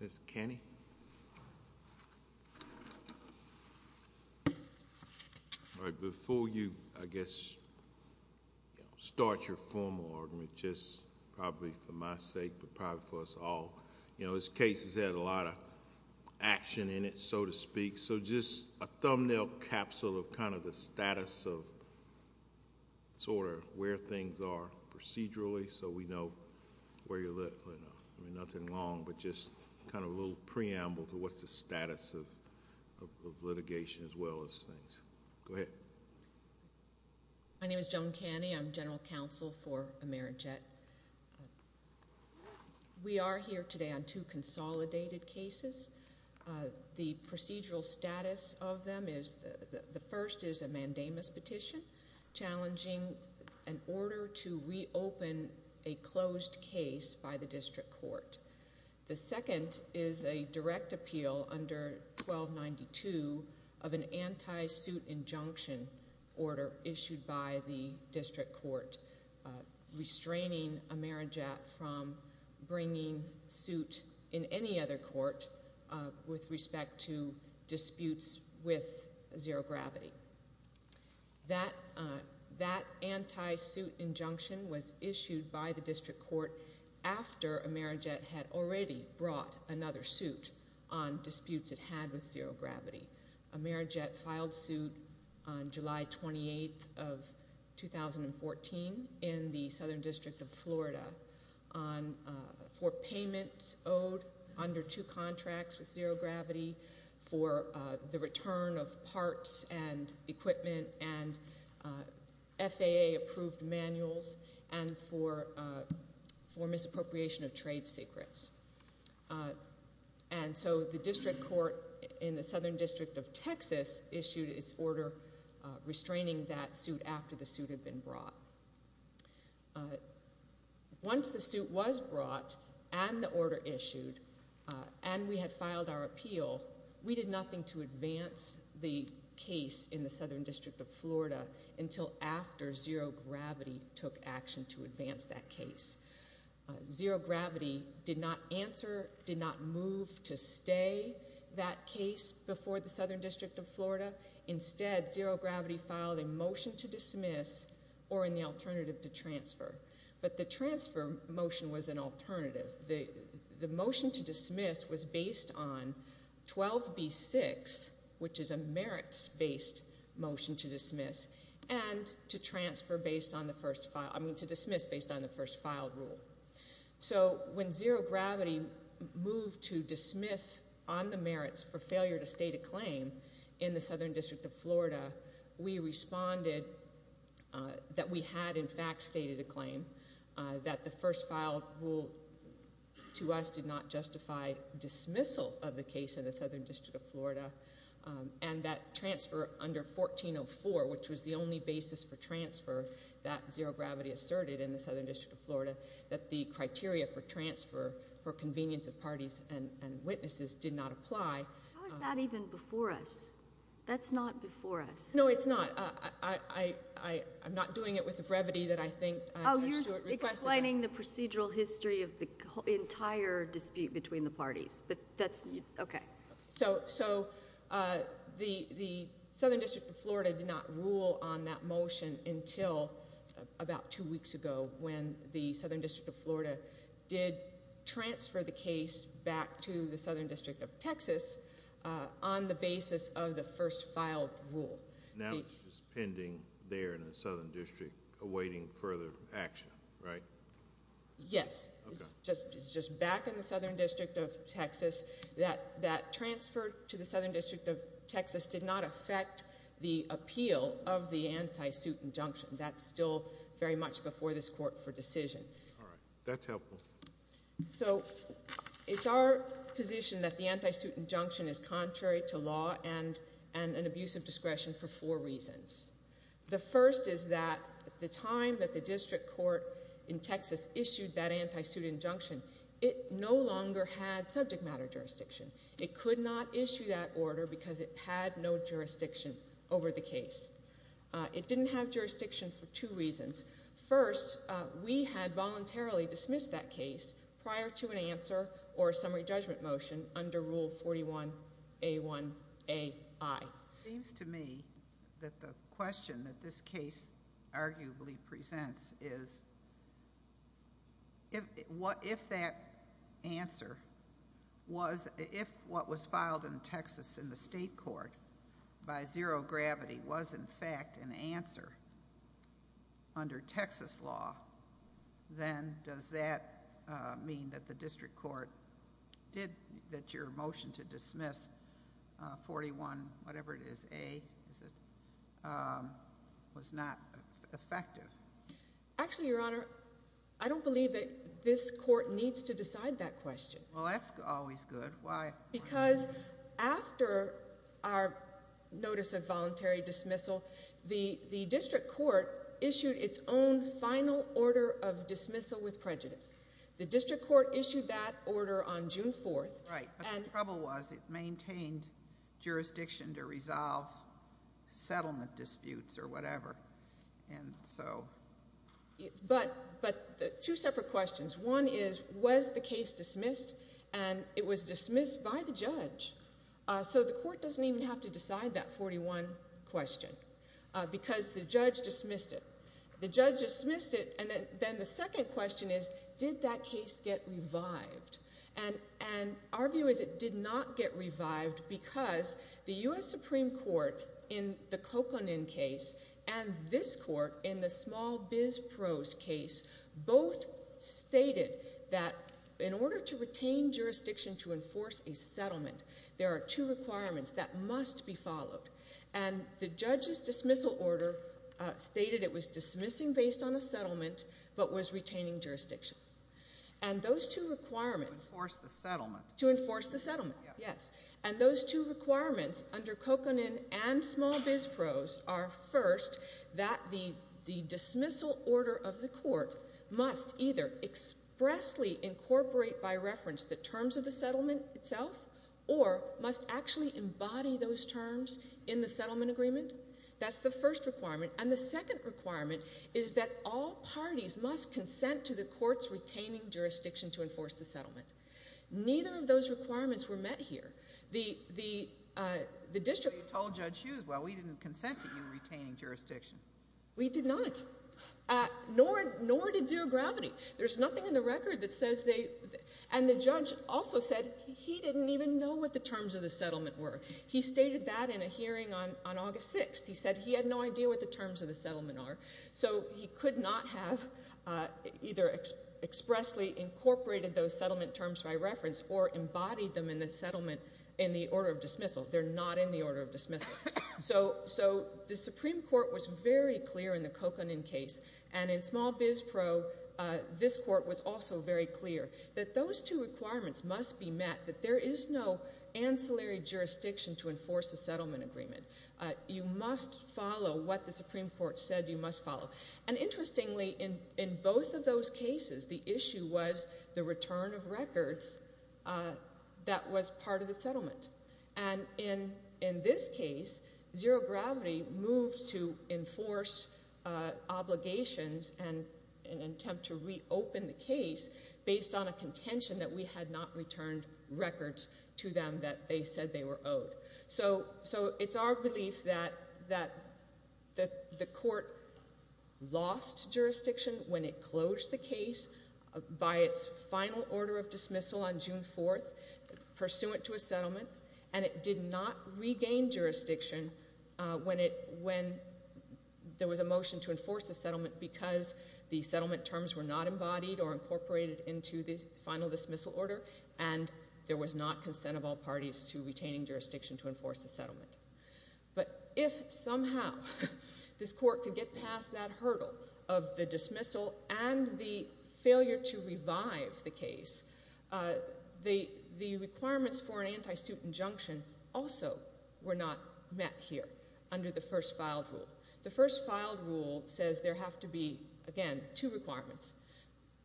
Ms. Kenney, before you, I guess, start your formal argument, just probably for my sake, but probably for us all, you know, this case has had a lot of action in it, so to speak, so just a thumbnail capsule of kind of the status of sort of where things are procedurally, so we know where you're at right now. I mean, nothing long, but just kind of a little preamble to what's the status of litigation as well as things. Go ahead. My name is Joan Kenney. I'm general counsel for Amerijet. We are here today on two consolidated cases. The procedural status of them is, the first is a mandamus petition challenging an order to reopen a closed case by the district court. The second is a direct appeal under 1292 of an anti-suit injunction order issued by the district court restraining Amerijet from bringing suit in any other court with respect to disputes with zero gravity. That anti-suit injunction was issued by the district court after Amerijet had already brought another suit on disputes it had with zero gravity. Amerijet filed suit on July 28th of 2014 in the Southern District of Florida for payments owed under two contracts with zero gravity for the return of parts and equipment and FAA approved manuals and for misappropriation of trade secrets. And so the district court in the Southern District of Texas issued its order restraining that suit after the suit had been brought. Once the suit was brought and the order issued and we had filed our appeal, we did nothing to advance the case in the Southern District of Florida until after zero gravity took action to advance that case. Zero gravity did not answer, did not move to stay that case before the Southern District of Florida. Instead, zero gravity filed a motion to dismiss or an alternative to transfer. But the transfer motion was an alternative. The motion to dismiss was based on 12B6, which is a merits-based motion to dismiss, and to transfer based on the first file, I mean to dismiss based on the first file rule. So when zero gravity moved to dismiss on the merits for failure to stay the claim in the Southern District of Florida, we responded that we had in fact stated a claim that the first file rule to us did not justify dismissal of the case in the Southern District of Florida and that transfer under 1404, which was the only basis for transfer that zero gravity asserted in the Southern District of Florida, that the criteria for transfer for convenience of parties and witnesses did not apply. How is that even before us? That's not before us. No, it's not. I'm not doing it with the brevity that I think... Oh, you're explaining the procedural history of the entire dispute between the parties, but that's, okay. So the Southern District of Florida did not rule on that motion until about two weeks ago when the Southern District of Florida transferred the case back to the Southern District of Texas on the basis of the first file rule. Now it's just pending there in the Southern District, awaiting further action, right? Yes. It's just back in the Southern District of Texas. That transfer to the Southern District of Texas did not affect the appeal of the anti-suit injunction. That's still very much before this court for decision. All right. That's helpful. So it's our position that the anti-suit injunction is contrary to law and an abuse of discretion for four reasons. The first is that the time that the district court in Texas issued that anti-suit injunction, it no longer had subject matter jurisdiction. It could not issue that order because it had no jurisdiction over the case. It didn't have jurisdiction for two reasons. First, we had voluntarily dismissed that case prior to an answer or a summary judgment motion under Rule 41A1AI. It seems to me that the question that this case arguably presents is if that answer was, if what was filed in Texas in the state court by zero gravity was in fact an answer under Texas law, then does that mean that the district court did, that your motion to dismiss 41, whatever it is, A, is it, was not effective? Actually, Your Honor, I don't believe that this court needs to decide that question. Well, that's always good. Why? Because after our notice of voluntary dismissal, the district court issued its own final order of dismissal with prejudice. The district court issued that order on June 4th. Right, but the trouble was it maintained jurisdiction to resolve settlement disputes or whatever. And so. But two separate questions. One is, was the case dismissed? And it was dismissed by the judge. So the court doesn't even have to decide that 41 question because the judge dismissed it. The judge dismissed it, and then the second question is, did that case get revived? And our view is it did not get revived because the US Supreme Court, in the Coconin case, and this court in the small biz pros case, both stated that in order to retain jurisdiction to enforce a settlement, there are two requirements that must be followed. And the judge's dismissal order stated it was dismissing based on a settlement, but was retaining jurisdiction. And those two requirements. To enforce the settlement. To enforce the settlement, yes. And those two requirements under Coconin and small biz pros are first, that the dismissal order of the court must either expressly incorporate by reference the terms of the settlement itself, or must actually embody those terms in the settlement agreement. That's the first requirement. And the second requirement is that all parties must consent to the court's retaining jurisdiction to enforce the settlement. Neither of those requirements were met here. The district- You told Judge Hughes, well, we didn't consent to you retaining jurisdiction. We did not, nor did Zero Gravity. There's nothing in the record that says they, and the judge also said he didn't even know what the terms of the settlement were. He stated that in a hearing on August 6th. He said he had no idea what the terms of the settlement are. So he could not have either expressly incorporated those settlement terms by reference or embodied them in the settlement in the order of dismissal. They're not in the order of dismissal. So the Supreme Court was very clear in the Coconin case. And in small biz pro, this court was also very clear. That those two requirements must be met. That there is no ancillary jurisdiction to enforce a settlement agreement. You must follow what the Supreme Court said you must follow. And interestingly, in both of those cases, the issue was the return of records that was part of the settlement. And in this case, Zero Gravity moved to enforce obligations and an attempt to reopen the case based on a contention that we had not returned records to them that they said they were owed. So it's our belief that the court lost jurisdiction when it closed the case by its final order of dismissal on June 4th, pursuant to a settlement. And it did not regain jurisdiction when there was a motion to enforce the settlement. Because the settlement terms were not embodied or incorporated into the final dismissal order. And there was not consent of all parties to retaining jurisdiction to enforce the settlement. But if somehow this court could get past that hurdle of the dismissal and the failure to revive the case, the requirements for an anti-suit injunction also were not met here under the first filed rule. The first filed rule says there have to be, again, two requirements.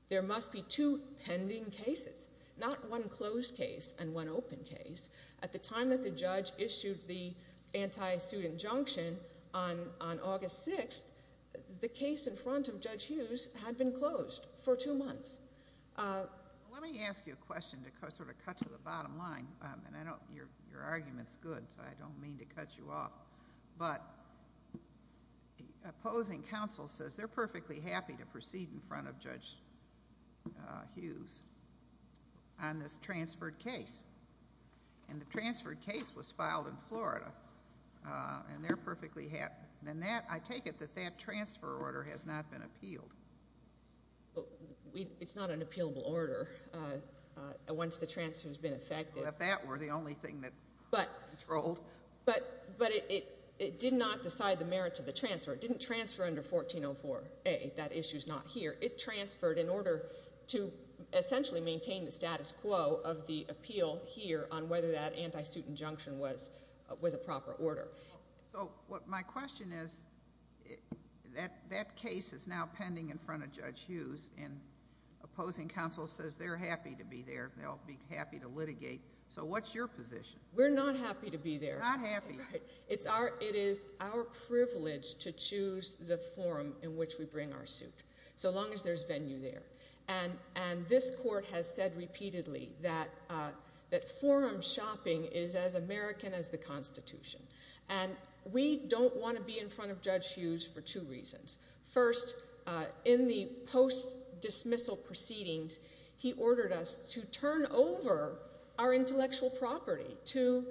There must be two pending cases, not one closed case and one open case. At the time that the judge issued the anti-suit injunction on August 6th, the case in front of Judge Hughes had been closed for two months. Let me ask you a question to sort of cut to the bottom line, and I know your argument's good, so I don't mean to cut you off. But opposing counsel says they're perfectly happy to proceed in front of Judge Hughes on this transferred case. And the transferred case was filed in Florida, and they're perfectly happy. And I take it that that transfer order has not been appealed. It's not an appealable order. Once the transfer's been effected. Well, if that were the only thing that controlled. But it did not decide the merit of the transfer. It didn't transfer under 1404A, that issue's not here. It transferred in order to essentially maintain the status quo of the appeal here on whether that anti-suit injunction was a proper order. So what my question is, that case is now pending in front of Judge Hughes, and opposing counsel says they're happy to be there, they'll be happy to litigate. So what's your position? We're not happy to be there. Not happy. It is our privilege to choose the forum in which we bring our suit, so long as there's venue there. And this court has said repeatedly that forum shopping is as American as the Constitution. And we don't want to be in front of Judge Hughes for two reasons. First, in the post-dismissal proceedings, he ordered us to turn over our intellectual property to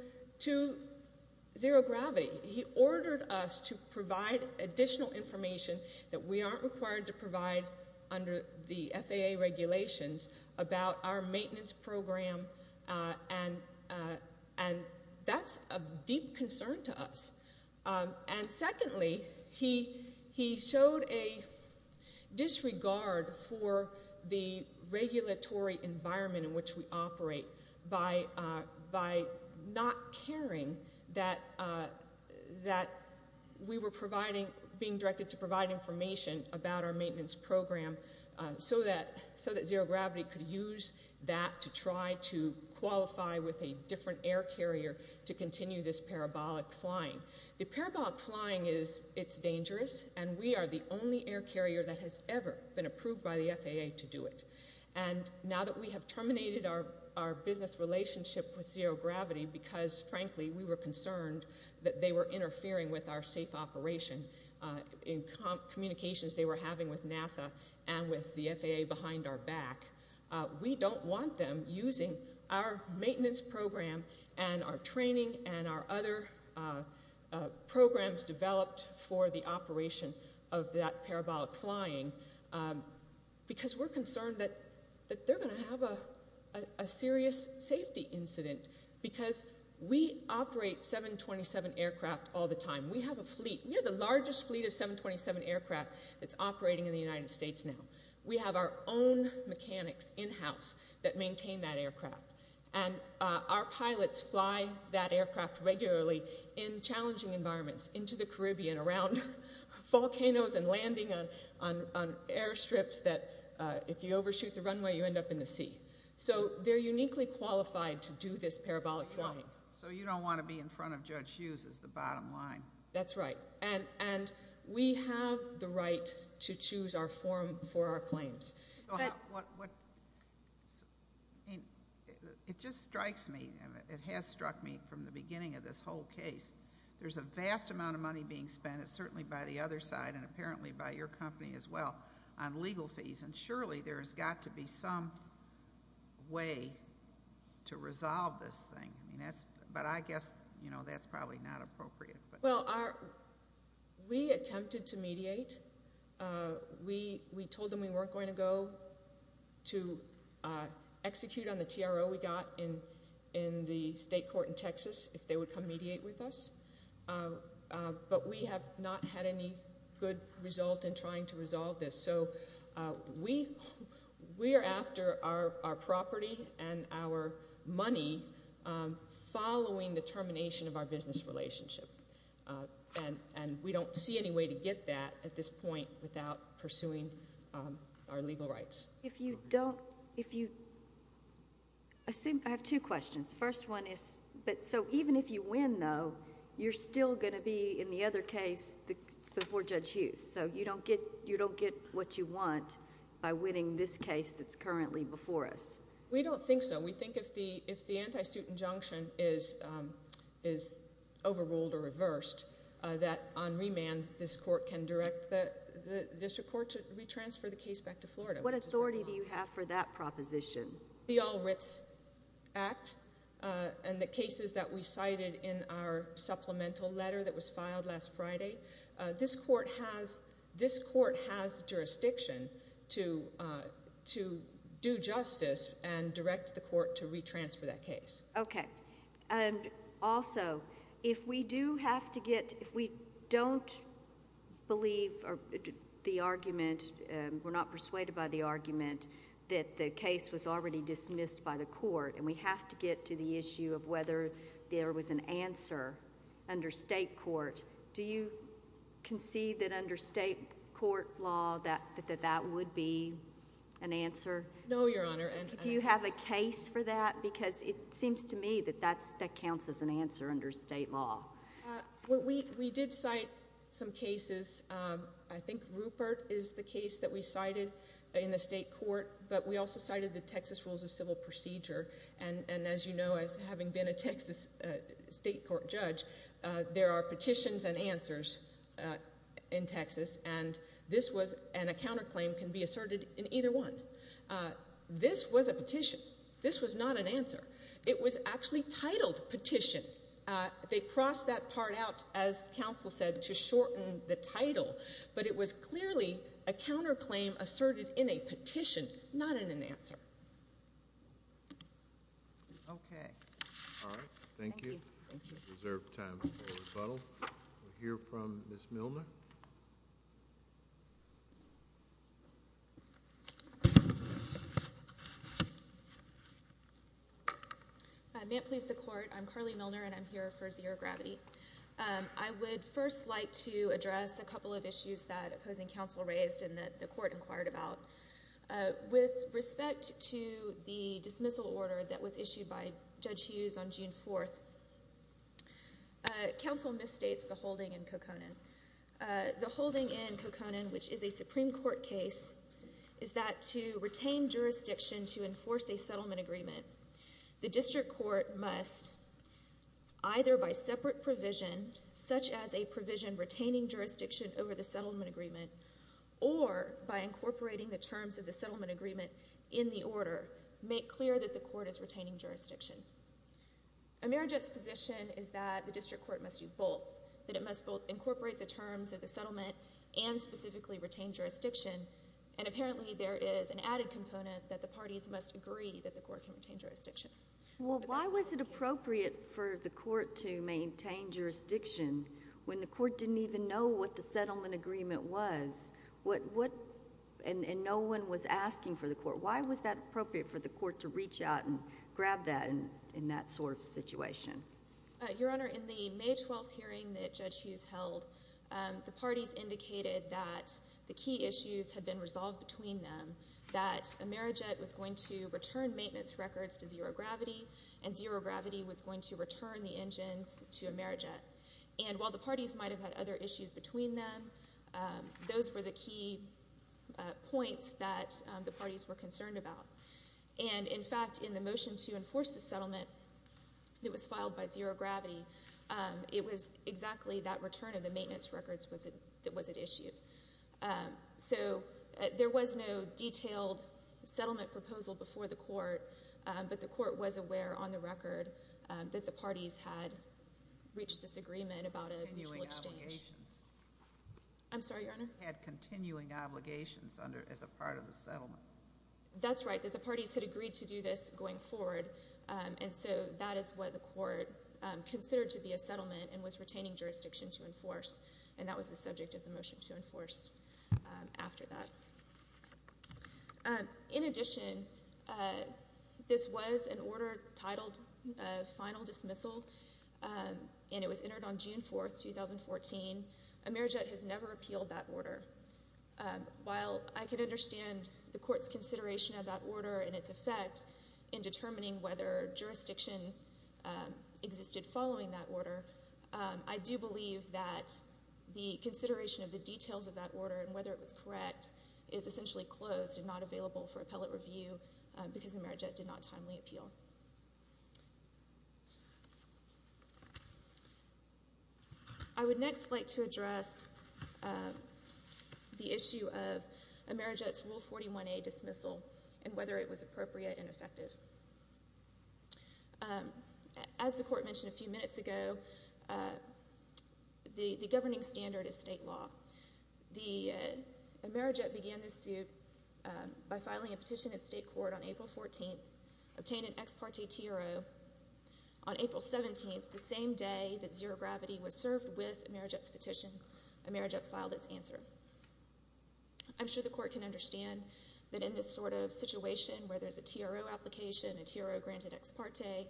zero gravity. He ordered us to provide additional information that we aren't required to provide under the FAA regulations about our maintenance program. And that's of deep concern to us. And secondly, he showed a disregard for the regulatory environment in which we operate by not caring that we were being directed to provide information about our maintenance program so that zero gravity could use that to try to qualify with a different air carrier to continue this parabolic flying. The parabolic flying is, it's dangerous, and we are the only air carrier that has ever been approved by the FAA to do it. And now that we have terminated our business relationship with zero gravity, because frankly, we were concerned that they were interfering with our safe operation in communications they were having with NASA and with the FAA behind our back. We don't want them using our maintenance program and our training and our other programs developed for the operation of that parabolic flying because we're concerned that they're going to have a serious safety incident. Because we operate 727 aircraft all the time. We have a fleet. We have the largest fleet of 727 aircraft that's operating in the United States now. We have our own mechanics in-house that maintain that aircraft. And our pilots fly that aircraft regularly in challenging environments, into the Caribbean, around volcanoes and landing on airstrips that if you overshoot the runway, you end up in the sea. So they're uniquely qualified to do this parabolic flying. So you don't want to be in front of Judge Hughes as the bottom line. That's right. And we have the right to choose our form for our claims. But what, I mean, it just strikes me, it has struck me from the beginning of this whole case, there's a vast amount of money being spent, certainly by the other side and apparently by your company as well, on legal fees. And surely there has got to be some way to resolve this thing. I mean, that's, but I guess, you know, that's probably not appropriate. Well, we attempted to mediate. We told them we weren't going to go to execute on the TRO we got in the state court in Texas if they would come mediate with us. But we have not had any good result in trying to resolve this. So we are after our property and our money following the termination of our business relationship. And we don't see any way to get that at this point without pursuing our legal rights. If you don't, if you, I have two questions. First one is, so even if you win though, you're still going to be in the other case before Judge Hughes. So you don't get what you want by winning this case that's currently before us. We don't think so. We think if the anti-suit injunction is overruled or reversed, that on remand, this court can direct the district court to retransfer the case back to Florida. What authority do you have for that proposition? The All Writs Act and the cases that we cited in our supplemental letter that was filed last Friday. This court has jurisdiction to do justice and direct the court to retransfer that case. Okay. And also, if we do have to get, if we don't believe the argument, we're not persuaded by the argument that the case was already dismissed by the court and we have to get to the issue of whether there was an answer under state court, do you concede that under state court law that that would be an answer? No, Your Honor. Do you have a case for that? Because it seems to me that that counts as an answer under state law. We did cite some cases. I think Rupert is the case that we cited in the state court, but we also cited the Texas Rules of Civil Procedure. And as you know, as having been a Texas state court judge, there are petitions and answers in Texas, and this was, and a counterclaim can be asserted in either one. This was a petition. This was not an answer. It was actually titled petition. They crossed that part out, as counsel said, to shorten the title. But it was clearly a counterclaim asserted in a petition, not in an answer. Okay. All right. Thank you. Reserved time for rebuttal. We'll hear from Ms. Milner. May it please the court. I'm Carly Milner, and I'm here for Zero Gravity. I would first like to address a couple of issues that opposing counsel raised and that the court inquired about. With respect to the dismissal order that was issued by Judge Hughes on June 4th, counsel misstates the holding in Kokonan. The holding in Kokonan, which is a Supreme Court case, is that to retain jurisdiction to enforce a settlement agreement, the district court must either by separate provision, such as a provision retaining jurisdiction over the settlement agreement, or by incorporating the terms of the settlement agreement in the order, make clear that the court is retaining jurisdiction. Emera Jett's position is that the district court must do both, that it must both incorporate the terms of the settlement and specifically retain jurisdiction. And apparently there is an added component that the parties must agree that the court can retain jurisdiction. Well, why was it appropriate for the court to maintain jurisdiction when the court didn't even know what the settlement agreement was? And no one was asking for the court. Why was that appropriate for the court to reach out and grab that in that sort of situation? Your Honor, in the May 12th hearing that Judge Hughes held, the parties indicated that the key issues had been resolved between them, that Emera Jett was going to return maintenance records to Zero Gravity, and Zero Gravity was going to return the engines to Emera Jett. And while the parties might have had other issues between them, those were the key points that the parties were concerned about. And in fact, in the motion to enforce the settlement that was filed by Zero Gravity, it was exactly that return of the maintenance records that was at issue. So there was no detailed settlement proposal before the court, but the court was aware on the record that the parties had reached this agreement about a mutual exchange. Continuing obligations. I'm sorry, Your Honor? Had continuing obligations as a part of the settlement. That's right, that the parties had agreed to do this going forward. And so that is what the court considered to be a settlement and was retaining jurisdiction to enforce. And that was the subject of the motion to enforce after that. In addition, this was an order titled Final Dismissal, and it was entered on June 4th, 2014. Emera Jett has never appealed that order. While I can understand the court's consideration of that order and its effect in determining whether jurisdiction existed following that order, I do believe that the consideration of the details of that order and whether it was correct is essentially closed and not available for appellate review because Emera Jett did not timely appeal. I would next like to address the issue of Emera Jett's Rule 41A dismissal and whether it was appropriate and effective. As the court mentioned a few minutes ago, the governing standard is state law. Emera Jett began this suit by filing a petition at state court on April 14th, obtained an ex parte TRO. On April 17th, the same day that Zero Gravity was served with Emera Jett's petition, Emera Jett filed its answer. I'm sure the court can understand that in this sort of situation where there's a TRO application, a TRO granted ex parte,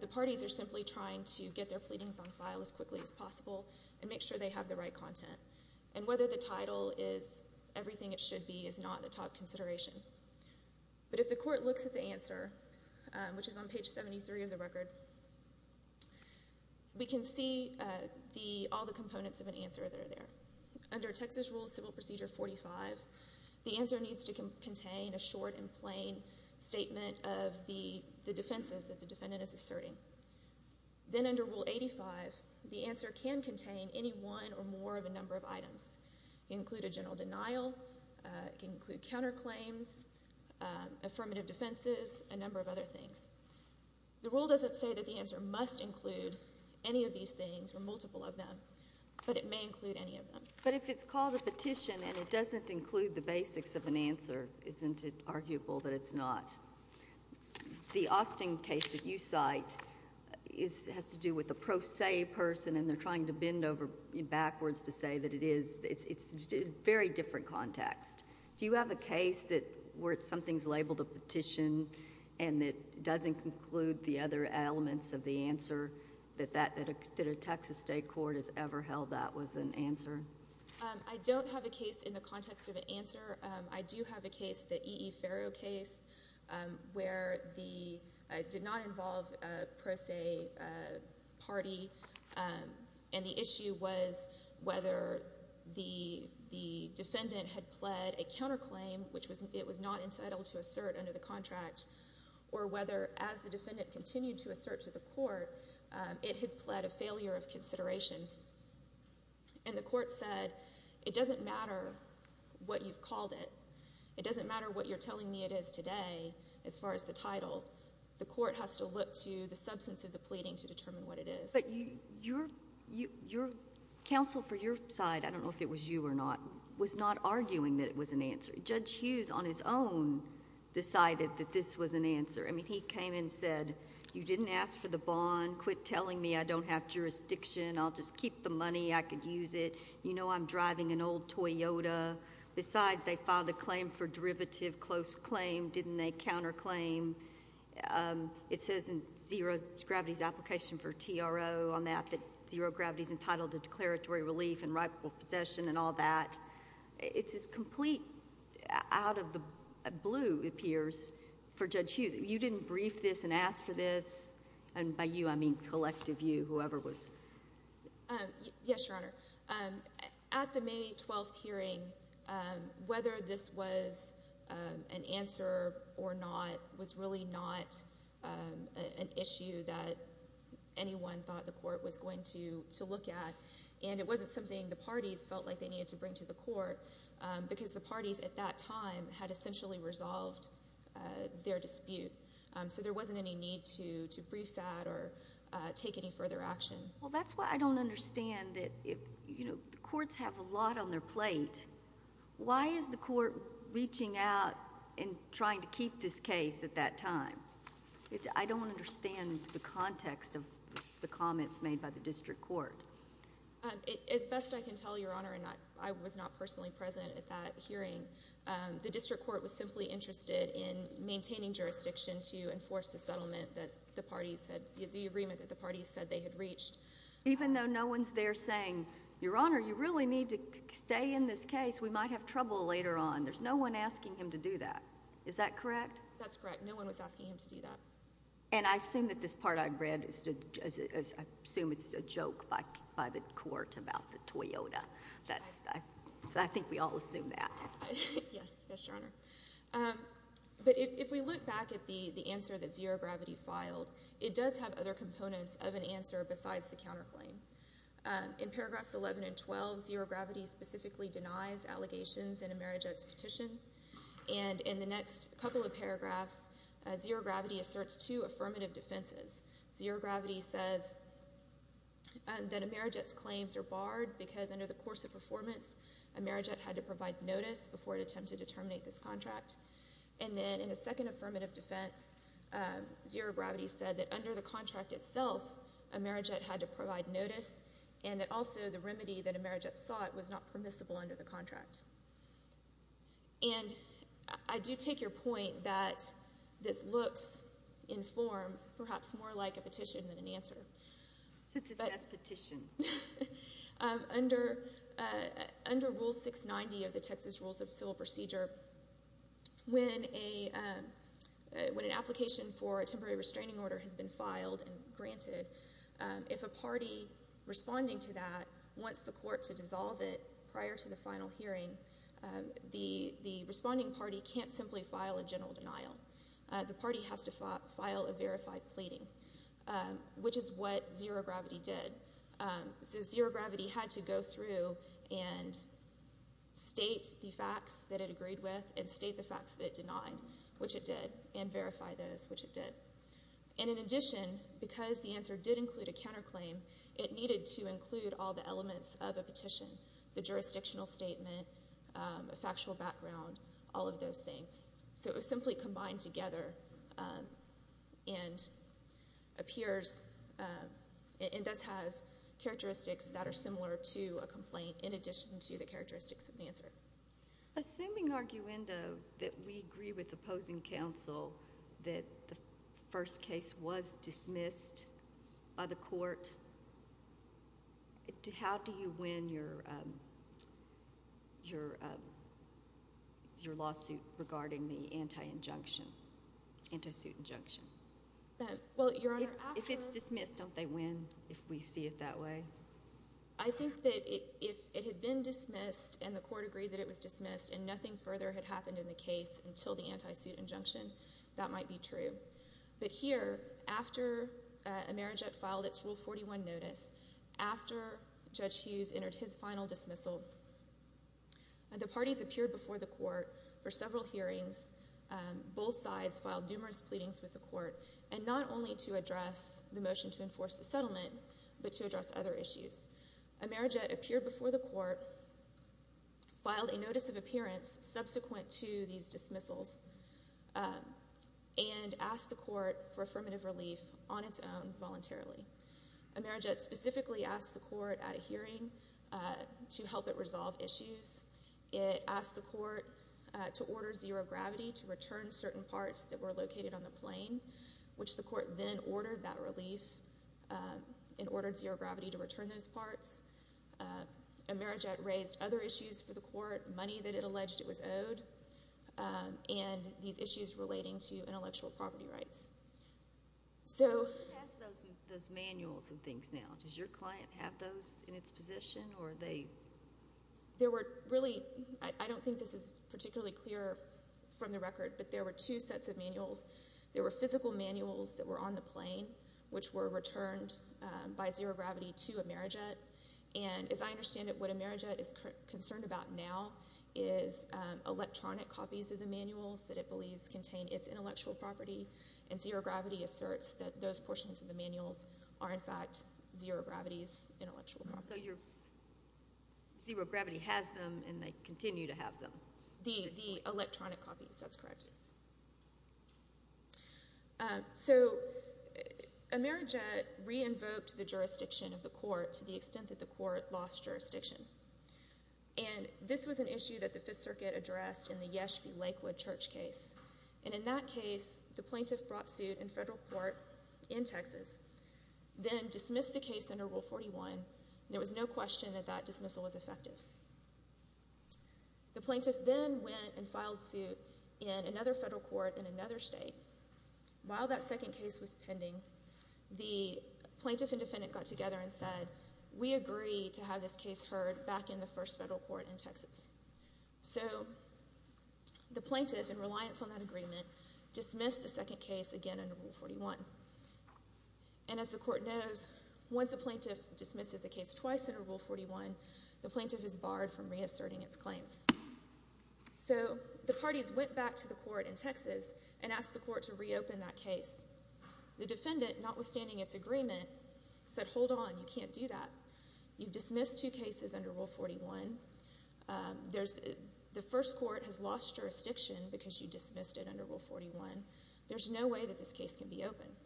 the parties are simply trying to get their pleadings on file as quickly as possible and make sure they have the right content. And whether the title is everything it should be is not the top consideration. But if the court looks at the answer, which is on page 73 of the record, we can see all the components of an answer that are there. Under Texas Rule Civil Procedure 45, the answer needs to contain a short and plain statement of the defenses that the defendant is asserting. Then under Rule 85, the answer can contain any one or more of a number of items. It can include a general denial, it can include counterclaims, affirmative defenses, a number of other things. The rule doesn't say that the answer must include any of these things or multiple of them, but it may include any of them. But if it's called a petition and it doesn't include the basics of an answer, isn't it arguable that it's not? The Austin case that you cite has to do with a pro se person and they're trying to bend over backwards to say that it is. It's a very different context. Do you have a case where something's labeled a petition and it doesn't conclude the other elements of the answer that a Texas state court has ever held that was an answer? I don't have a case in the context of an answer. I do have a case, the E.E. Farrow case, where it did not involve a pro se party and the issue was whether the defendant had pled a counterclaim which it was not entitled to assert under the contract or whether, as the defendant continued to assert to the court, it had pled a failure of consideration. And the court said, it doesn't matter what you've called it. It doesn't matter what you're telling me it is today as far as the title. The court has to look to the substance of the pleading to determine what it is. But your counsel for your side, I don't know if it was you or not, was not arguing that it was an answer. Judge Hughes on his own decided that this was an answer. I mean, he came and said, you didn't ask for the bond. Quit telling me I don't have jurisdiction. I'll just keep the money. I could use it. You know I'm driving an old Toyota. Besides, they filed a claim for derivative close claim. Didn't they counterclaim? It says in Zero Gravity's application for TRO on that that Zero Gravity's entitled to declaratory relief and rightful possession and all that. It's a complete out of the blue, it appears, for Judge Hughes. You didn't brief this and ask for this. And by you, I mean collective you, whoever was. Yes, Your Honor. At the May 12th hearing, whether this was an answer or not was really not an issue that anyone thought the court was going to look at. And it wasn't something the parties felt like they needed to bring to the court. Because the parties at that time had essentially resolved their dispute. So there wasn't any need to brief that or take any further action. Well, that's why I don't understand that, you know, the courts have a lot on their plate. Why is the court reaching out and trying to keep this case at that time? I don't understand the context of the comments made by the district court. As best I can tell, Your Honor, and I was not personally present at that hearing, the district court was simply interested in maintaining jurisdiction to enforce the settlement that the parties had, the agreement that the parties said they had reached. Even though no one's there saying, Your Honor, you really need to stay in this case, we might have trouble later on. There's no one asking him to do that. Is that correct? That's correct. No one was asking him to do that. And I assume that this part I've read is, I assume it's a joke by the court about the Toyota. That's, I think we all assume that. Yes, Your Honor. But if we look back at the answer that Zero Gravity filed, it does have other components of an answer besides the counterclaim. In paragraphs 11 and 12, Zero Gravity specifically denies allegations in Amerijet's petition. And in the next couple of paragraphs, Zero Gravity asserts two affirmative defenses. Zero Gravity says that Amerijet's claims are barred because under the course of performance, Amerijet had to provide notice before it attempted to terminate this contract. And then in a second affirmative defense, Zero Gravity said that under the contract itself, Amerijet had to provide notice and that also the remedy that Amerijet sought was not permissible under the contract. And I do take your point that this looks in form perhaps more like a petition than an answer. It's a test petition. Under Rule 690 of the Texas Rules of Civil Procedure, when an application for a temporary restraining order has been filed and granted, if a party responding to that wants the court to dissolve it prior to the final hearing, the responding party can't simply file a general denial. The party has to file a verified pleading, which is what Zero Gravity did. So Zero Gravity had to go through and state the facts that it agreed with and state the facts that it denied, which it did, and verify those, which it did. And in addition, because the answer did include a counterclaim, it needed to include all the elements of a petition. The jurisdictional statement, a factual background, all of those things. So it was simply combined together and does have characteristics that are similar to a complaint in addition to the characteristics of the answer. Assuming, arguendo, that we agree with opposing counsel that the first case was dismissed by the court, how do you win your lawsuit regarding the anti-injunction, anti-suit injunction? If it's dismissed, don't they win if we see it that way? I think that if it had been dismissed and the court agreed that it was dismissed and nothing further had happened in the case until the anti-suit injunction, that might be true. But here, after Amerijet filed its Rule 41 notice, after Judge Hughes entered his final dismissal, the parties appeared before the court for several hearings. Both sides filed numerous pleadings with the court, and not only to address the motion to enforce the settlement, but to address other issues. Amerijet appeared before the court, filed a notice of appearance subsequent to these dismissals, and asked the court for affirmative relief on its own, voluntarily. Amerijet specifically asked the court at a hearing to help it resolve issues. It asked the court to order zero gravity to return certain parts that were located on the plane, which the court then ordered that relief and ordered zero gravity to return those parts. Amerijet raised other issues for the court, money that it alleged it was owed, and these issues relating to intellectual property rights. So... Who has those manuals and things now? Does your client have those in its position, or are they... There were really, I don't think this is particularly clear from the record, but there were two sets of manuals. There were physical manuals that were on the plane, which were returned by zero gravity to Amerijet. And as I understand it, what Amerijet is concerned about now is electronic copies of the manuals that it believes contain its intellectual property, and zero gravity asserts that those portions of the manuals are in fact zero gravity's intellectual property. So zero gravity has them, and they continue to have them. The electronic copies, that's correct. So... Amerijet re-invoked the jurisdiction of the court to the extent that the court lost jurisdiction. And this was an issue that the Fifth Circuit addressed in the Yeshvi Lakewood Church case. And in that case, the plaintiff brought suit in federal court in Texas, then dismissed the case under Rule 41. There was no question that that dismissal was effective. The plaintiff then went and filed suit in another federal court in another state. While that second case was pending, the plaintiff and defendant got together and said, we agree to have this case heard back in the first federal court in Texas. So the plaintiff, in reliance on that agreement, dismissed the second case again under Rule 41. And as the court knows, once a plaintiff dismisses a case twice under Rule 41, the plaintiff is barred from reasserting its claims. So the parties went back to the court in Texas and asked the court to reopen that case. The defendant, notwithstanding its agreement, said, hold on, you can't do that. You dismissed two cases under Rule 41. The first court has lost jurisdiction because you dismissed it under Rule 41. There's no way that this case can be opened.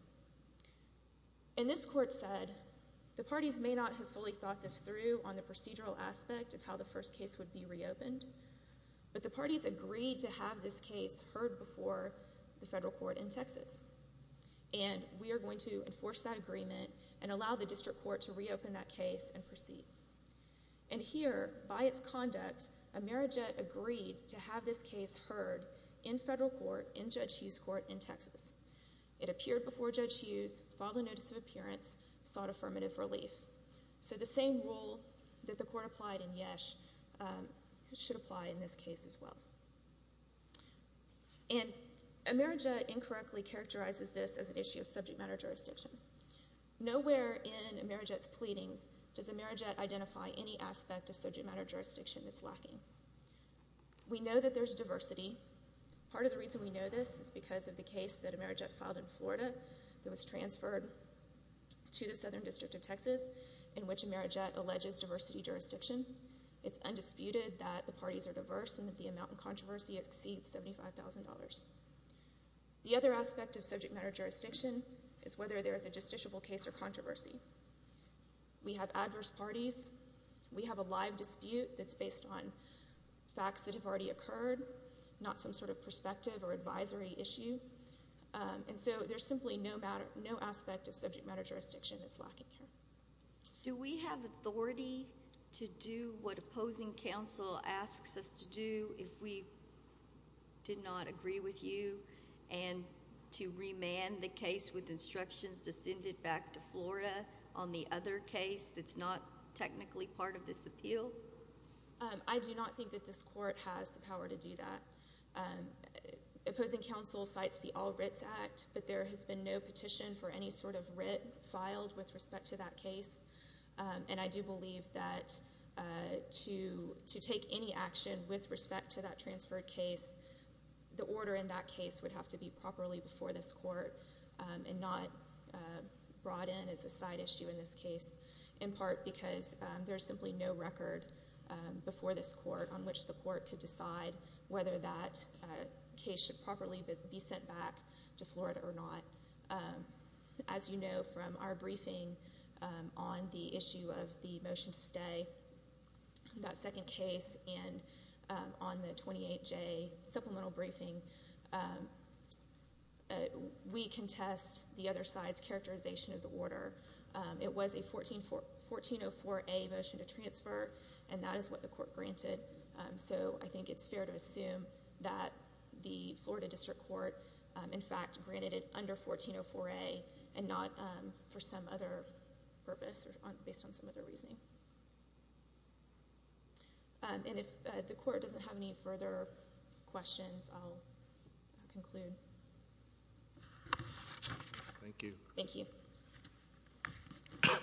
And this court said, the parties may not have fully thought this through on the procedural aspect of how the first case would be reopened, but the parties agreed to have this case heard before the federal court in Texas. And we are going to enforce that agreement and allow the district court to reopen that case and proceed. And here, by its conduct, Amerijet agreed to have this case heard in federal court, in Judge Hughes' court in Texas. It appeared before Judge Hughes, filed a notice of appearance, sought affirmative relief. So the same rule that the court applied in Yesh should apply in this case as well. And Amerijet incorrectly characterizes this as an issue of subject matter jurisdiction. Nowhere in Amerijet's pleadings does Amerijet identify any aspect of subject matter jurisdiction that's lacking. We know that there's diversity. Part of the reason we know this is because of the case that Amerijet filed in Florida that was transferred to the Southern District of Texas, in which Amerijet alleges diversity jurisdiction. It's undisputed that the parties are diverse and that the amount in controversy exceeds $75,000. The other aspect of subject matter jurisdiction is whether there is a justiciable case or controversy. We have adverse parties. We have a live dispute that's based on facts that have already occurred. Not some sort of perspective or advisory issue. And so there's simply no aspect of subject matter jurisdiction that's lacking here. Do we have authority to do what opposing counsel asks us to do if we did not agree with you and to remand the case with instructions to send it back to Florida on the other case that's not technically part of this appeal? I do not think that this court has the power to do that. Opposing counsel cites the All Writs Act, but there has been no petition for any sort of writ filed with respect to that case. And I do believe that to take any action with respect to that transferred case, the order in that case would have to be properly before this court and not brought in as a side issue in this case. In part because there's simply no record before this court on which the court could decide whether that case should properly be sent back to Florida or not. As you know from our briefing on the issue of the motion to stay, that second case and on the 28J supplemental briefing, we contest the other side's characterization of the order. It was a 1404A motion to transfer, and that is what the court granted. So I think it's fair to assume that the Florida District Court, in fact, granted it under 1404A and not for some other purpose or based on some other reasoning. And if the court doesn't have any further questions, I'll conclude. Thank you. Mr.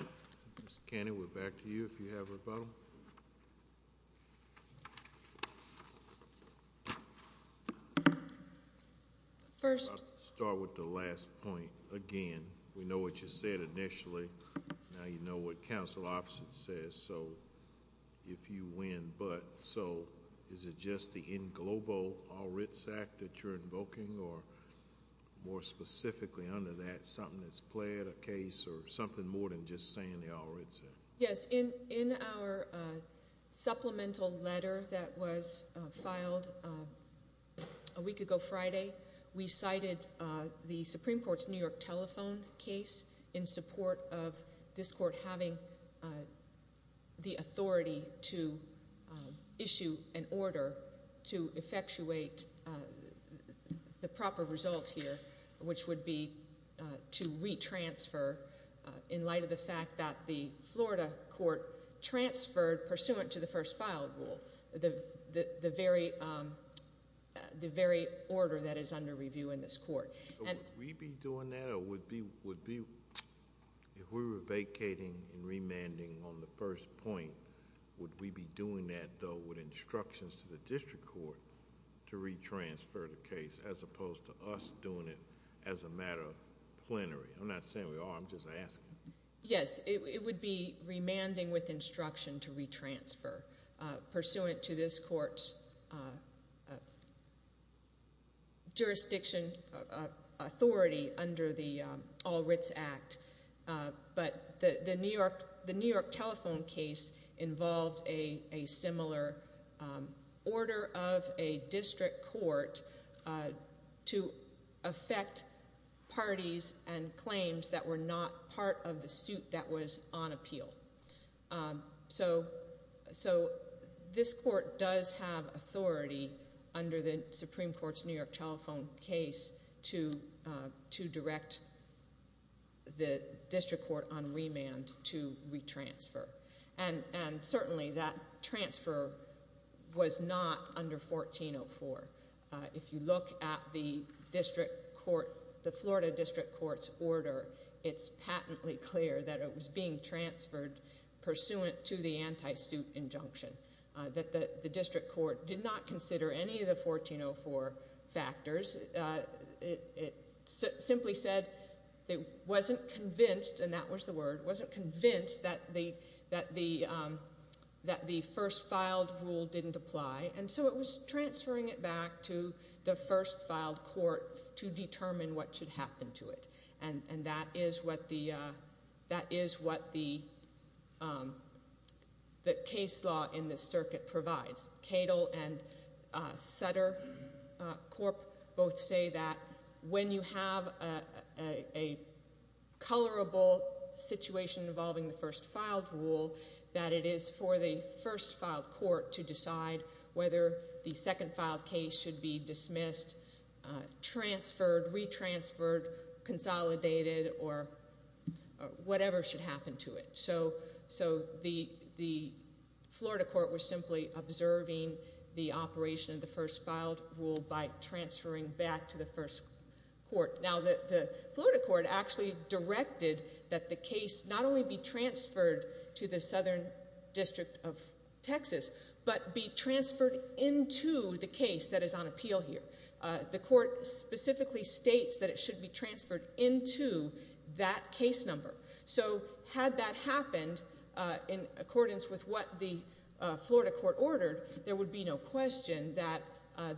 Canning, we're back to you if you have a problem. I'll start with the last point again. We know what you said initially. Now you know what counsel opposite says, so if you win but. So is it just the in globo all writs act that you're invoking, or more specifically under that something that's played a case or something more than just saying the all writs act? Yes. In our supplemental letter that was filed a week ago Friday, we cited the Supreme Court's New York telephone case in support of this court having the authority to issue an order to effectuate the proper result here, which would be to retransfer in light of the fact that the Florida court transferred pursuant to the first filed rule, the very order that is under review in this court. So would we be doing that, or would be, if we were vacating and remanding on the first point, would we be doing that though with instructions to the district court to retransfer the case as opposed to us doing it as a matter of plenary? I'm not saying we are, I'm just asking. Yes. It would be remanding with instruction to retransfer, pursuant to this court's jurisdiction authority under the all writs act. But the New York telephone case involved a similar order of a district court to effect parties and claims that were not part of the suit that was on appeal. So this court does have authority under the Supreme Court's New York telephone case to direct the district court on remand to retransfer. And certainly that transfer was not under 1404. If you look at the district court, the Florida district court's order, it's patently clear that it was being transferred pursuant to the anti-suit injunction. The district court did not consider any of the 1404 factors. It simply said it wasn't convinced, and that was the word, wasn't convinced that the first filed rule didn't apply. And so it was transferring it back to the first filed court to determine what should happen to it. And that is what the case law in this circuit provides. Cato and Sutter Corp both say that when you have a colorable situation involving the first filed rule, that it is for the first filed court to decide whether the second filed case should be dismissed, transferred, retransferred, consolidated, or whatever should happen to it. So the Florida court was simply observing the operation of the first filed rule by transferring back to the first court. Now the Florida court actually directed that the case not only be transferred to the Southern District of Texas, but be transferred into the case that is on appeal here. The court specifically states that it should be transferred into that case number. So had that happened in accordance with what the Florida court ordered, there would be no question that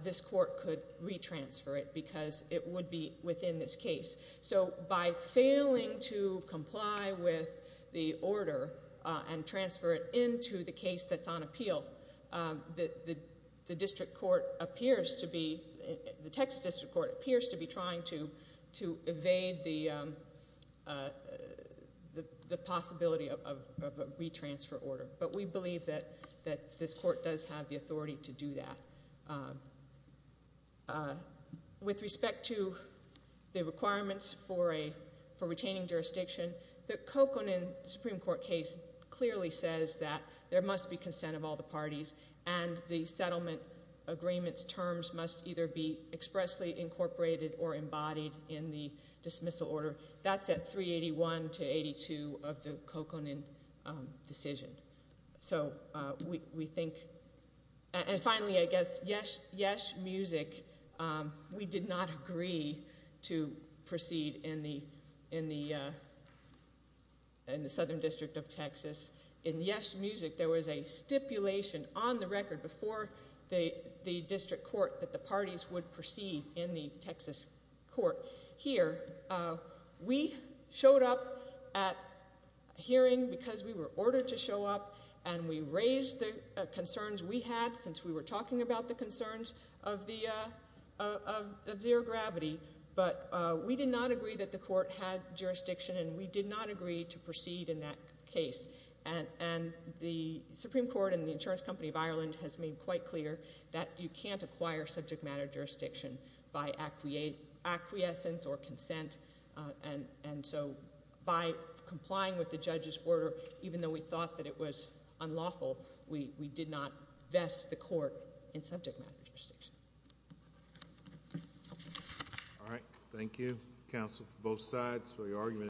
this court could retransfer it because it would be within this case. So by failing to comply with the order and transfer it into the case that's on appeal, the district court appears to be, the Texas district court appears to be trying to evade the possibility of a retransfer order. But we believe that this court does have the authority to do that. With respect to the requirements for retaining jurisdiction, the Coconin Supreme Court case clearly says that there must be consent of all the parties, and the settlement agreement's terms must either be expressly incorporated or embodied in the dismissal order. That's at 381 to 82 of the Coconin decision. So we think, and finally I guess, Yes Music, we did not agree to proceed in the Southern District of Texas. In Yes Music, there was a stipulation on the record before the district court that the parties would proceed in the Texas court. Here, we showed up at a hearing because we were ordered to show up and we raised the concerns we had since we were talking about the concerns of zero gravity. But we did not agree that the court had jurisdiction and we did not agree to proceed in that case. And the Supreme Court and the Insurance Company of Ireland has made quite clear that you can't acquire subject matter jurisdiction by acquiescence or consent. And so by complying with the judge's order, even though we thought that it was unlawful, we did not vest the court in subject matter jurisdiction. All right. Thank you, counsel, both sides for your argument.